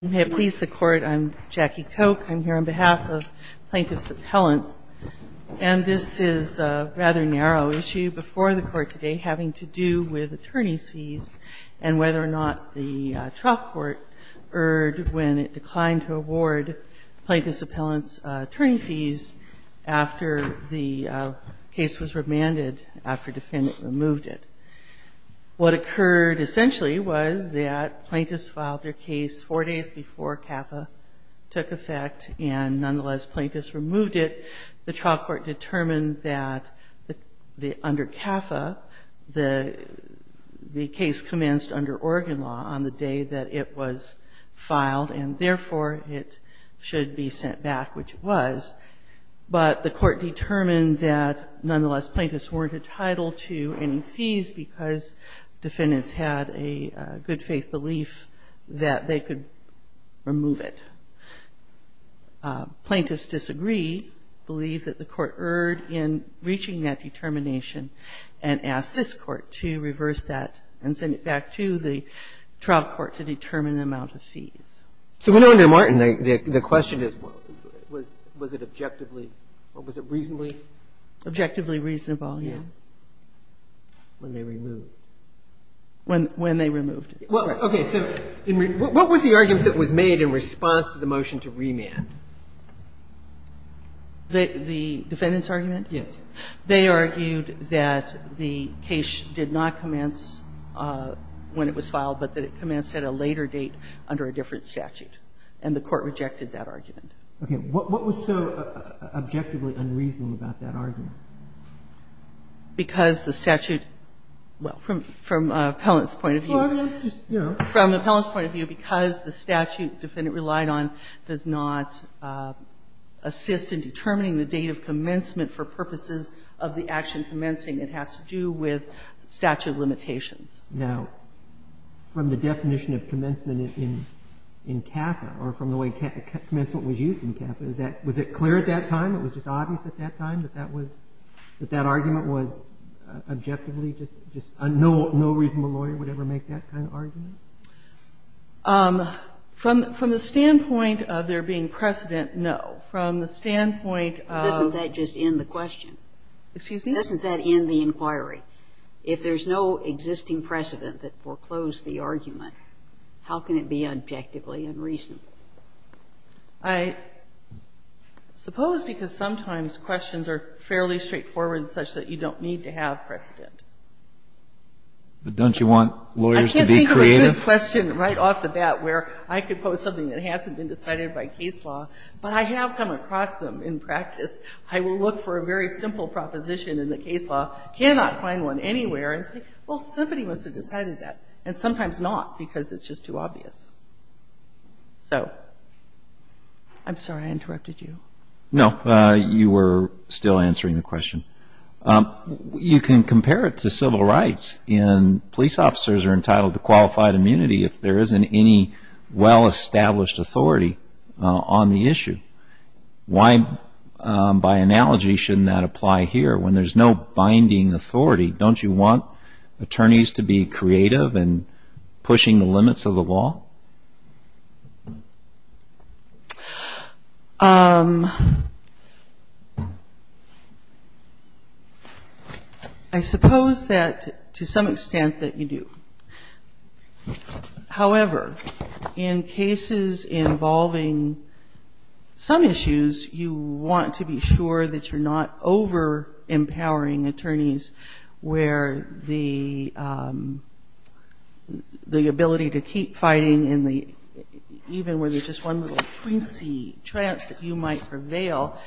May it please the Court, I'm Jackie Koch. I'm here on behalf of Plaintiffs' Appellants. And this is a rather narrow issue before the Court today, having to do with attorney's fees and whether or not the trial court erred when it declined to award Plaintiffs' Appellants' attorney fees after the case was remanded, after defendants removed it. What occurred essentially was that Plaintiffs filed their case four days before CAFA took effect and nonetheless Plaintiffs removed it. The trial court determined that under CAFA, the case commenced under Oregon law on the day that it was filed and therefore it should be sent back, which it was, but the Court determined that nonetheless Plaintiffs weren't entitled to any fees because defendants had a good faith belief that they could remove it. Plaintiffs disagree, believe that the Court erred in reaching that determination and ask this Court to reverse that and send it back to the trial court to determine the amount of fees. So under Martin, the question is, was it objectively or was it reasonably? Objectively reasonable, yes. When they removed it. When they removed it. Okay. So what was the argument that was made in response to the motion to remand? The defendant's argument? Yes. They argued that the case did not commence when it was filed, but that it commenced at a later date under a different statute. And the Court rejected that argument. Okay. What was so objectively unreasonable about that argument? Because the statute, well, from Appellant's point of view. Well, I mean, just, you know. From Appellant's point of view, because the statute defendant relied on does not assist in determining the date of commencement for purposes of the action commencing, it has to do with statute limitations. Now, from the definition of commencement in CAFA, or from the way commencement was used in CAFA, is that, was it clear at that time, it was just obvious at that time, that that was, that that argument was objectively just, just no reasonable lawyer would ever make that kind of argument? From the standpoint of there being precedent, no. From the standpoint of. Doesn't that just end the question? Excuse me? Doesn't that end the inquiry? If there's no existing precedent that foreclosed the argument, how can it be objectively unreasonable? I suppose because sometimes questions are fairly straightforward and such that you don't need to have precedent. But don't you want lawyers to be creative? I can't think of any question right off the bat where I could pose something that hasn't been decided by case law, but I have come across them in practice. I will look for a very simple proposition in the case law, cannot find one anywhere, and say, well, somebody must have decided that. And sometimes not, because it's just too obvious. So. I'm sorry I interrupted you. No, you were still answering the question. You can compare it to civil rights, and police officers are entitled to qualified immunity if there isn't any well-established authority on the issue. Why, by analogy, shouldn't that apply here when there's no binding authority? Don't you want attorneys to be creative in pushing the limits of the law? I suppose that, to some extent, that you do. However, in cases involving some issues, you want to be sure that you're not over-empowering attorneys where the ability to keep fighting, even when there's just one little trance that you might prevail,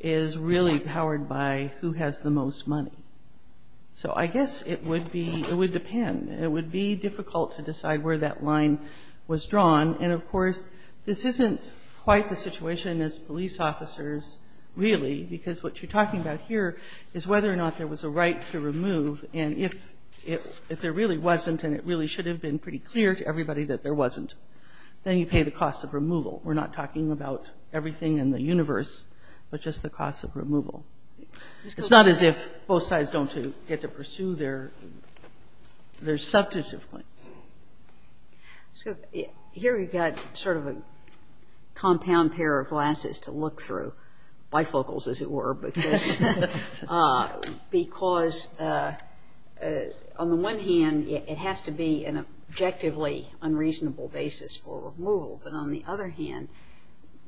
is really powered by who has the most money. So I guess it would depend. It would be difficult to decide where that line was drawn. And, of course, this isn't quite the situation as police officers, really, because what you're talking about here is whether or not there was a right to remove. And if there really wasn't, and it really should have been pretty clear to everybody that there wasn't, then you pay the cost of removal. We're not talking about everything in the universe, but just the cost of removal. It's not as if both sides don't get to pursue their substantive claims. So here we've got sort of a compound pair of glasses to look through, bifocals, as it were, because on the one hand, it has to be an objectively unreasonable basis for removal, but on the other hand,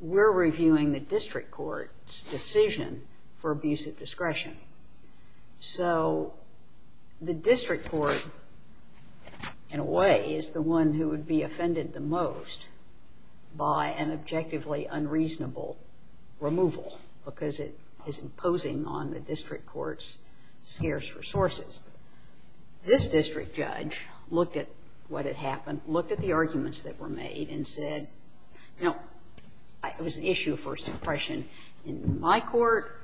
we're reviewing the district court's decision for abuse of discretion. So the district court, in a way, is the one who would be offended the most by an objectively unreasonable removal, because it is imposing on the district court's scarce resources. This district judge looked at what had happened, looked at the arguments that were made, and said, you know, it was an issue of first impression in my court.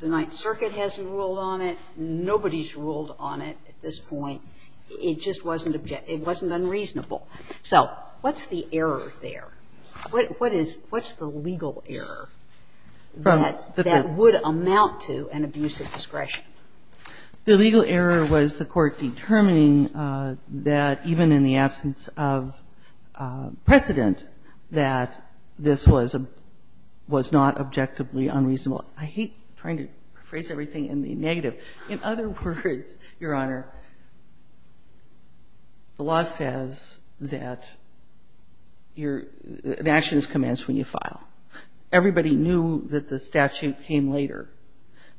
The Ninth Circuit hasn't ruled on it. Nobody's ruled on it at this point. It just wasn't unreasonable. So what's the error there? What is the legal error that would amount to an abuse of discretion? The legal error was the court determining that even in the absence of precedent that this was not objectively unreasonable. I hate trying to phrase everything in the negative. In other words, Your Honor, the law says that an action is commenced when you file. Everybody knew that the statute came later.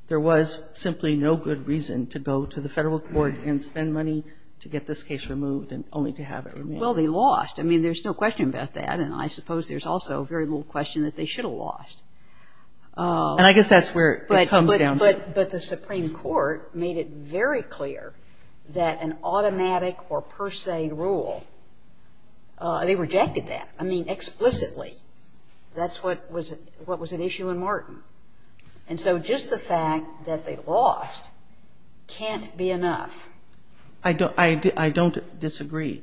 There was simply no good reason to go to the Federal court and spend money to get this case removed and only to have it removed. Well, they lost. I mean, there's no question about that, and I suppose there's also very little question that they should have lost. And I guess that's where it comes down to. But the Supreme Court made it very clear that an automatic or per se rule, they rejected that, I mean, explicitly. That's what was at issue in Martin. And so just the fact that they lost can't be enough. I don't disagree.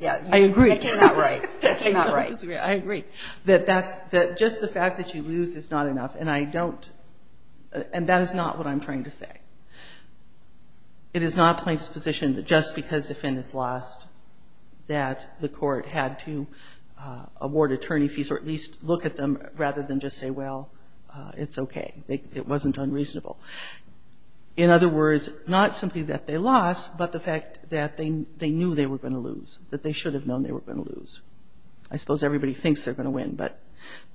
Yeah. I agree. That came out right. That came out right. I agree. That just the fact that you lose is not enough, and I don't, and that is not what I'm trying to say. It is not plain disposition that just because defendants lost that the court had to award attorney fees or at least look at them rather than just say, well, it's okay. It wasn't unreasonable. In other words, not simply that they lost, but the fact that they knew they were going to lose, that they should have known they were going to lose. I suppose everybody thinks they're going to win, but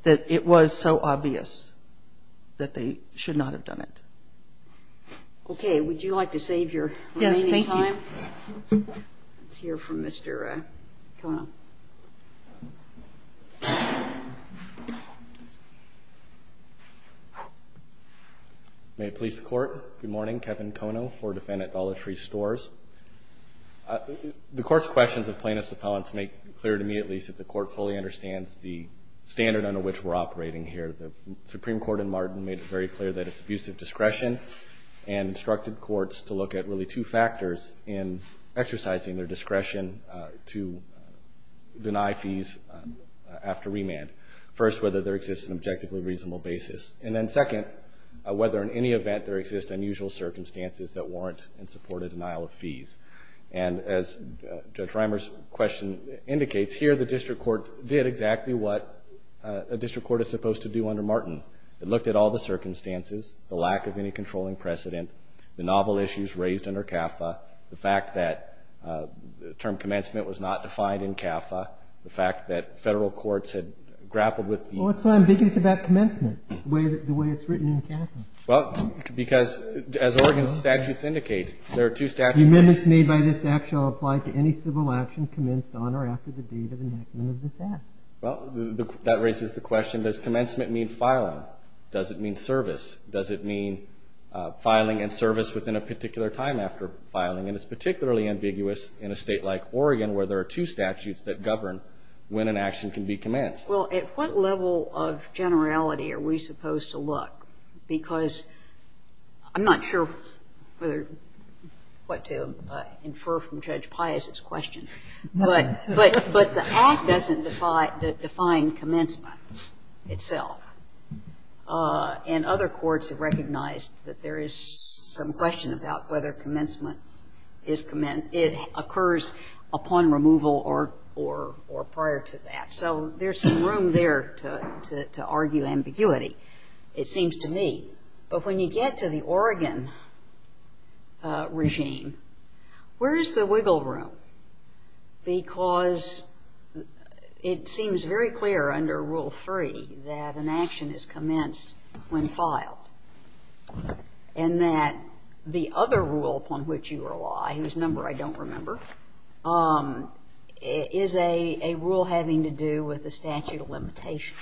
that it was so obvious that they should not have done it. Would you like to save your remaining time? Yes. Thank you. Let's hear from Mr. Kono. May it please the Court. Good morning. Kevin Kono, four defendant, Dollar Tree Stores. The Court's questions of plaintiffs' appellants make clear to me at least that the Court fully understands the standard under which we're operating here. The Supreme Court in Martin made it very clear that it's abuse of discretion and instructed courts to look at really two factors in exercising their discretion to deny fees after remand. First, whether there exists an objectively reasonable basis. And then second, whether in any event there exists unusual circumstances that warrant and support a denial of fees. And as Judge Reimer's question indicates, here the district court did exactly what a district court is supposed to do under Martin. It looked at all the circumstances, the lack of any controlling precedent, the novel issues raised under CAFA, the fact that the term commencement was not defined in CAFA, the fact that Federal courts had grappled with the ---- Well, what's so ambiguous about commencement, the way it's written in CAFA? Well, because as Oregon's statutes indicate, there are two statutes ---- The amendments made by this Act shall apply to any civil action commenced on or after the date of enactment of this Act. Well, that raises the question, does commencement mean filing? Does it mean service? Does it mean filing and service within a particular time after filing? And it's particularly ambiguous in a state like Oregon where there are two statutes that govern when an action can be commenced. Well, at what level of generality are we supposed to look? Because I'm not sure what to infer from Judge Pius' question. But the Act doesn't define commencement itself. And other courts have recognized that there is some question about whether commencement occurs upon removal or prior to that. So there's some room there to argue ambiguity, it seems to me. But when you get to the Oregon regime, where is the wiggle room? Because it seems very clear under Rule 3 that an action is commenced when filed and that the other rule upon which you rely, whose number I don't remember, is a rule having to do with the statute of limitations.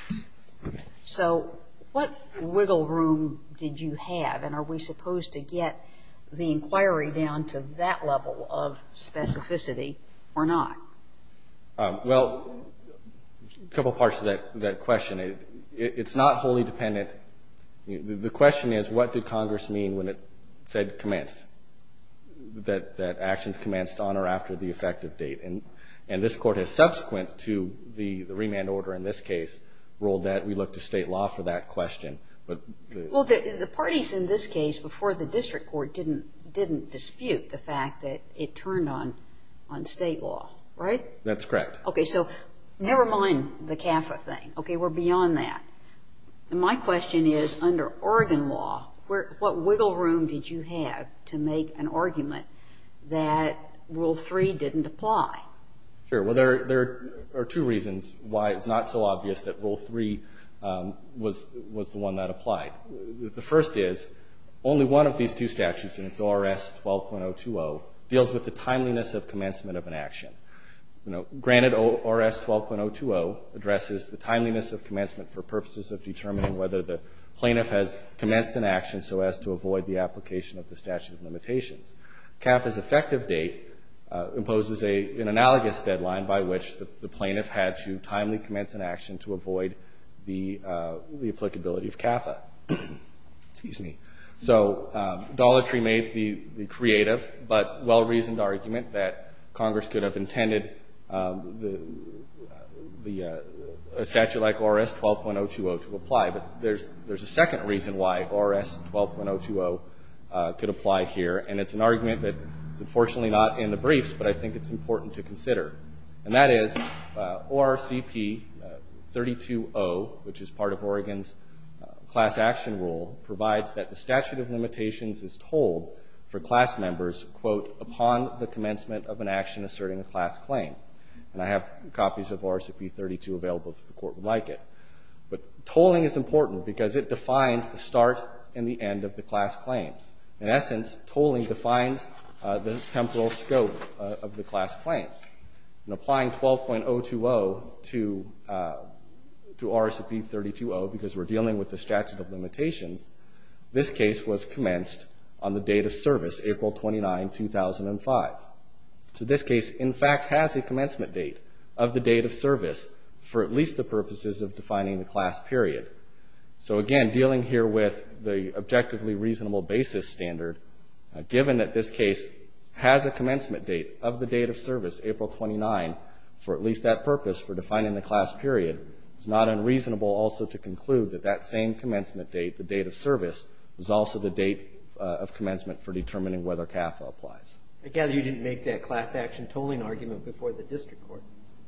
So what wiggle room did you have? And are we supposed to get the inquiry down to that level of specificity or not? Well, a couple parts to that question. It's not wholly dependent. The question is, what did Congress mean when it said commenced, that actions commenced on or after the effective date? And this Court has, subsequent to the remand order in this case, ruled that we look to state law for that question. Well, the parties in this case, before the district court, didn't dispute the fact that it turned on state law, right? That's correct. Okay, so never mind the CAFA thing. Okay, we're beyond that. And my question is, under Oregon law, what wiggle room did you have to make an argument that Rule 3 didn't apply? Sure. Well, there are two reasons why it's not so obvious that Rule 3 was the one that applied. The first is, only one of these two statutes, and it's ORS 12.020, deals with the timeliness of commencement of an action. You know, granted ORS 12.020 addresses the timeliness of commencement for purposes of determining whether the plaintiff has commenced an action and so as to avoid the application of the statute of limitations. CAFA's effective date imposes an analogous deadline by which the plaintiff had to timely commence an action to avoid the applicability of CAFA. Excuse me. So Dollar Tree made the creative but well-reasoned argument that Congress could have intended a statute like ORS 12.020 to apply. But there's a second reason why ORS 12.020 could apply here, and it's an argument that is unfortunately not in the briefs, but I think it's important to consider. And that is ORCP 32.0, which is part of Oregon's class action rule, provides that the statute of limitations is told for class members, quote, upon the commencement of an action asserting a class claim. And I have copies of ORCP 32 available if the Court would like it. But tolling is important because it defines the start and the end of the class claims. In essence, tolling defines the temporal scope of the class claims. In applying 12.020 to ORCP 32.0 because we're dealing with the statute of limitations, this case was commenced on the date of service, April 29, 2005. So this case, in fact, has a commencement date of the date of service for at least the purposes of defining the class period. So, again, dealing here with the objectively reasonable basis standard, given that this case has a commencement date of the date of service, April 29, for at least that purpose for defining the class period, it's not unreasonable also to conclude that that same commencement date, the date of service, was also the date of commencement for determining whether CAFA applies. I gather you didn't make that class action tolling argument before the district court.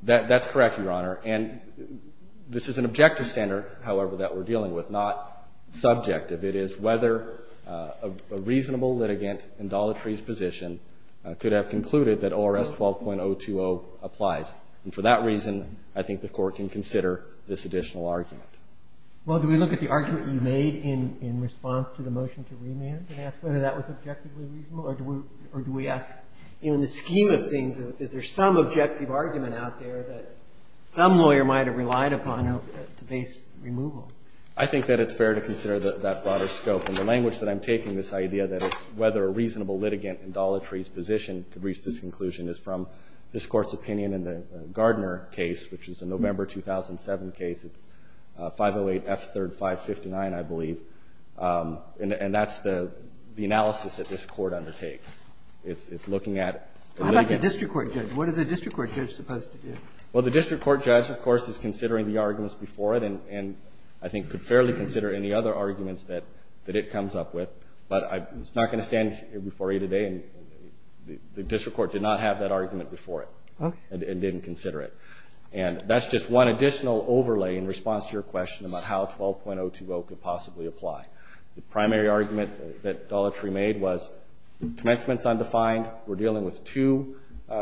That's correct, Your Honor. And this is an objective standard, however, that we're dealing with, not subjective. It is whether a reasonable litigant in Dollar Tree's position could have concluded that ORS 12.020 applies. And for that reason, I think the Court can consider this additional argument. Well, do we look at the argument you made in response to the motion to remand and ask whether that was objectively reasonable? Or do we ask, you know, in the scheme of things, is there some objective argument out there that some lawyer might have relied upon to base removal? I think that it's fair to consider that broader scope. And the language that I'm taking this idea that it's whether a reasonable litigant in Dollar Tree's position could reach this conclusion is from this Court's opinion in the Gardner case, which is a November 2007 case. It's 508 F. 3rd 559, I believe. And that's the analysis that this Court undertakes. It's looking at litigants. How about the district court judge? What is the district court judge supposed to do? Well, the district court judge, of course, is considering the arguments before it and I think could fairly consider any other arguments that it comes up with. But I'm not going to stand here before you today. The district court did not have that argument before it and didn't consider it. And that's just one additional overlay in response to your question about how 12.020 could possibly apply. The primary argument that Dollar Tree made was commencement's undefined. We're dealing with two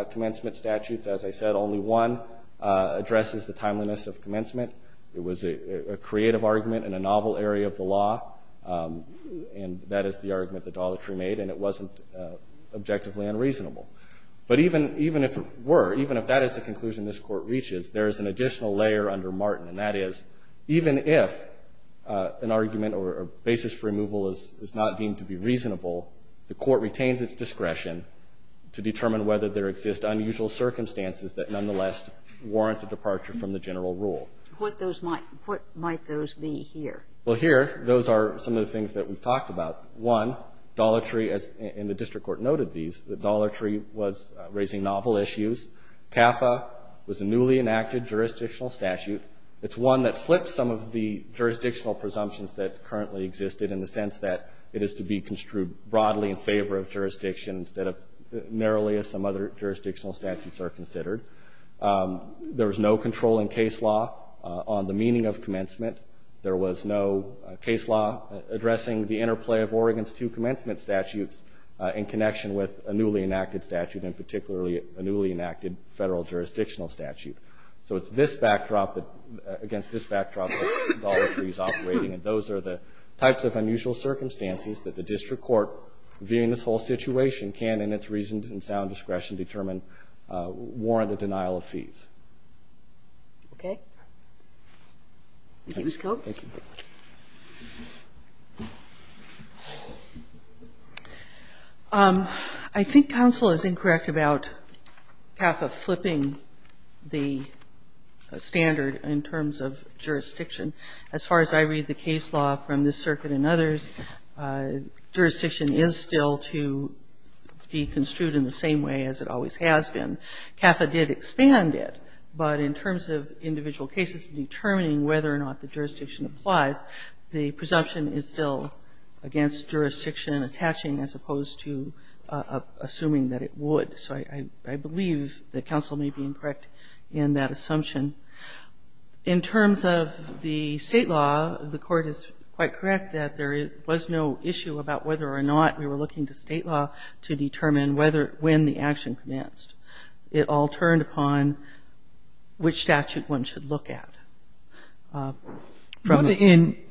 commencement statutes. As I said, only one addresses the timeliness of commencement. It was a creative argument in a novel area of the law, and that is the argument that Dollar Tree made, and it wasn't objectively unreasonable. But even if it were, even if that is the conclusion this Court reaches, there is an additional layer under Martin, and that is even if an argument or a basis for removal is not deemed to be reasonable, the Court retains its discretion to determine whether there exist unusual circumstances that nonetheless warrant a departure from the general rule. What might those be here? Well, here, those are some of the things that we've talked about. One, Dollar Tree, and the district court noted these, that Dollar Tree was raising novel issues. CAFA was a newly enacted jurisdictional statute and it's one that flips some of the jurisdictional presumptions that currently existed in the sense that it is to be construed broadly in favor of jurisdiction instead of narrowly as some other jurisdictional statutes are considered. There was no control in case law on the meaning of commencement. There was no case law addressing the interplay of Oregon's two commencement statutes in connection with a newly enacted statute, and particularly a newly enacted federal jurisdictional statute. So it's this backdrop against this backdrop that Dollar Tree is operating, and those are the types of unusual circumstances that the district court, viewing this whole situation, can, in its reasoned and sound discretion, determine warrant a denial of fees. Okay. Thank you, Mr. Koch. Thank you. I think counsel is incorrect about CAFA flipping the standard in terms of jurisdiction. As far as I read the case law from this circuit and others, jurisdiction is still to be construed in the same way as it always has been. CAFA did expand it, but in terms of individual cases determining whether or not the jurisdiction applies, the presumption is still against jurisdiction attaching as opposed to assuming that it would. So I believe that counsel may be incorrect in that assumption. In terms of the state law, the Court is quite correct that there was no issue about whether or not we were looking to state law to determine when the action commenced. It all turned upon which statute one should look at.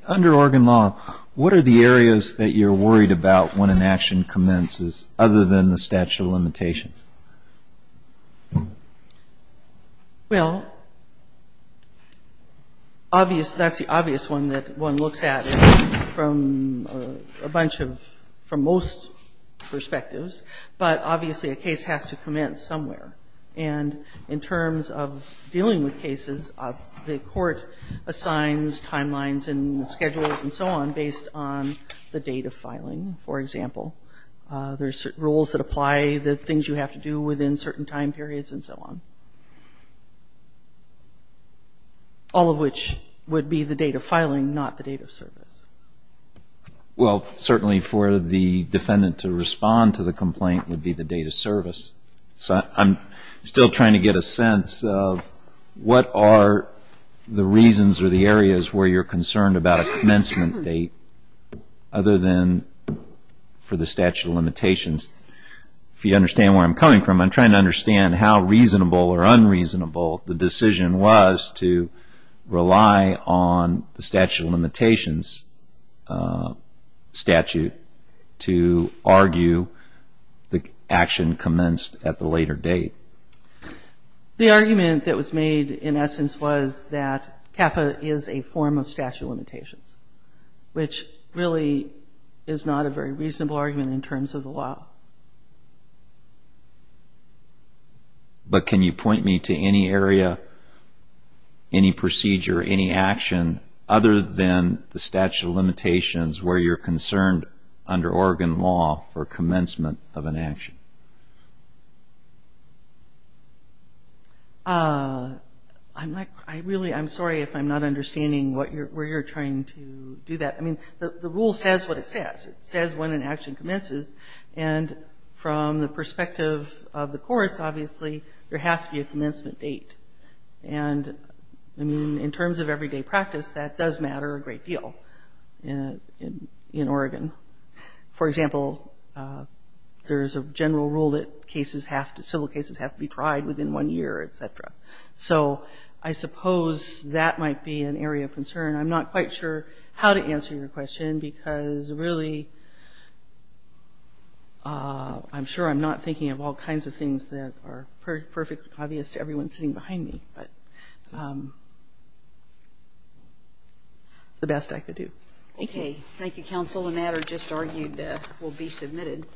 Under Oregon law, what are the areas that you're worried about when an action commences other than the statute of limitations? Well, that's the obvious one that one looks at from a bunch of, from most perspectives. But obviously a case has to commence somewhere. And in terms of dealing with cases, the Court assigns timelines and schedules and so on based on the date of filing, for example. There's rules that apply, the things you have to do within certain time periods and so on. All of which would be the date of filing, not the date of service. Well, certainly for the defendant to respond to the complaint would be the date of service. So I'm still trying to get a sense of what are the reasons or the areas where you're concerned about a commencement date other than for the statute of limitations. If you understand where I'm coming from, I'm trying to understand how reasonable or unreasonable the decision was to rely on the statute of limitations statute to argue the action commenced at the later date. The argument that was made, in essence, was that CAFA is a form of statute of limitations, which really is not a very reasonable argument in terms of the law. But can you point me to any area, any procedure, any action other than the statute of limitations where you're concerned under Oregon law for commencement of an action? I'm sorry if I'm not understanding where you're trying to do that. I mean, the rule says what it says. It says when an action commences. And from the perspective of the courts, obviously there has to be a commencement date. And, I mean, in terms of everyday practice, that does matter a great deal in Oregon. For example, there's a general rule that cases have to, civil cases have to be tried within one year, et cetera. So I suppose that might be an area of concern. I'm not quite sure how to answer your question because, really, I'm sure I'm not thinking of all kinds of things that are perfect, obvious to everyone sitting behind me. But it's the best I could do. Thank you. Okay. Thank you, counsel. The matter just argued will be submitted.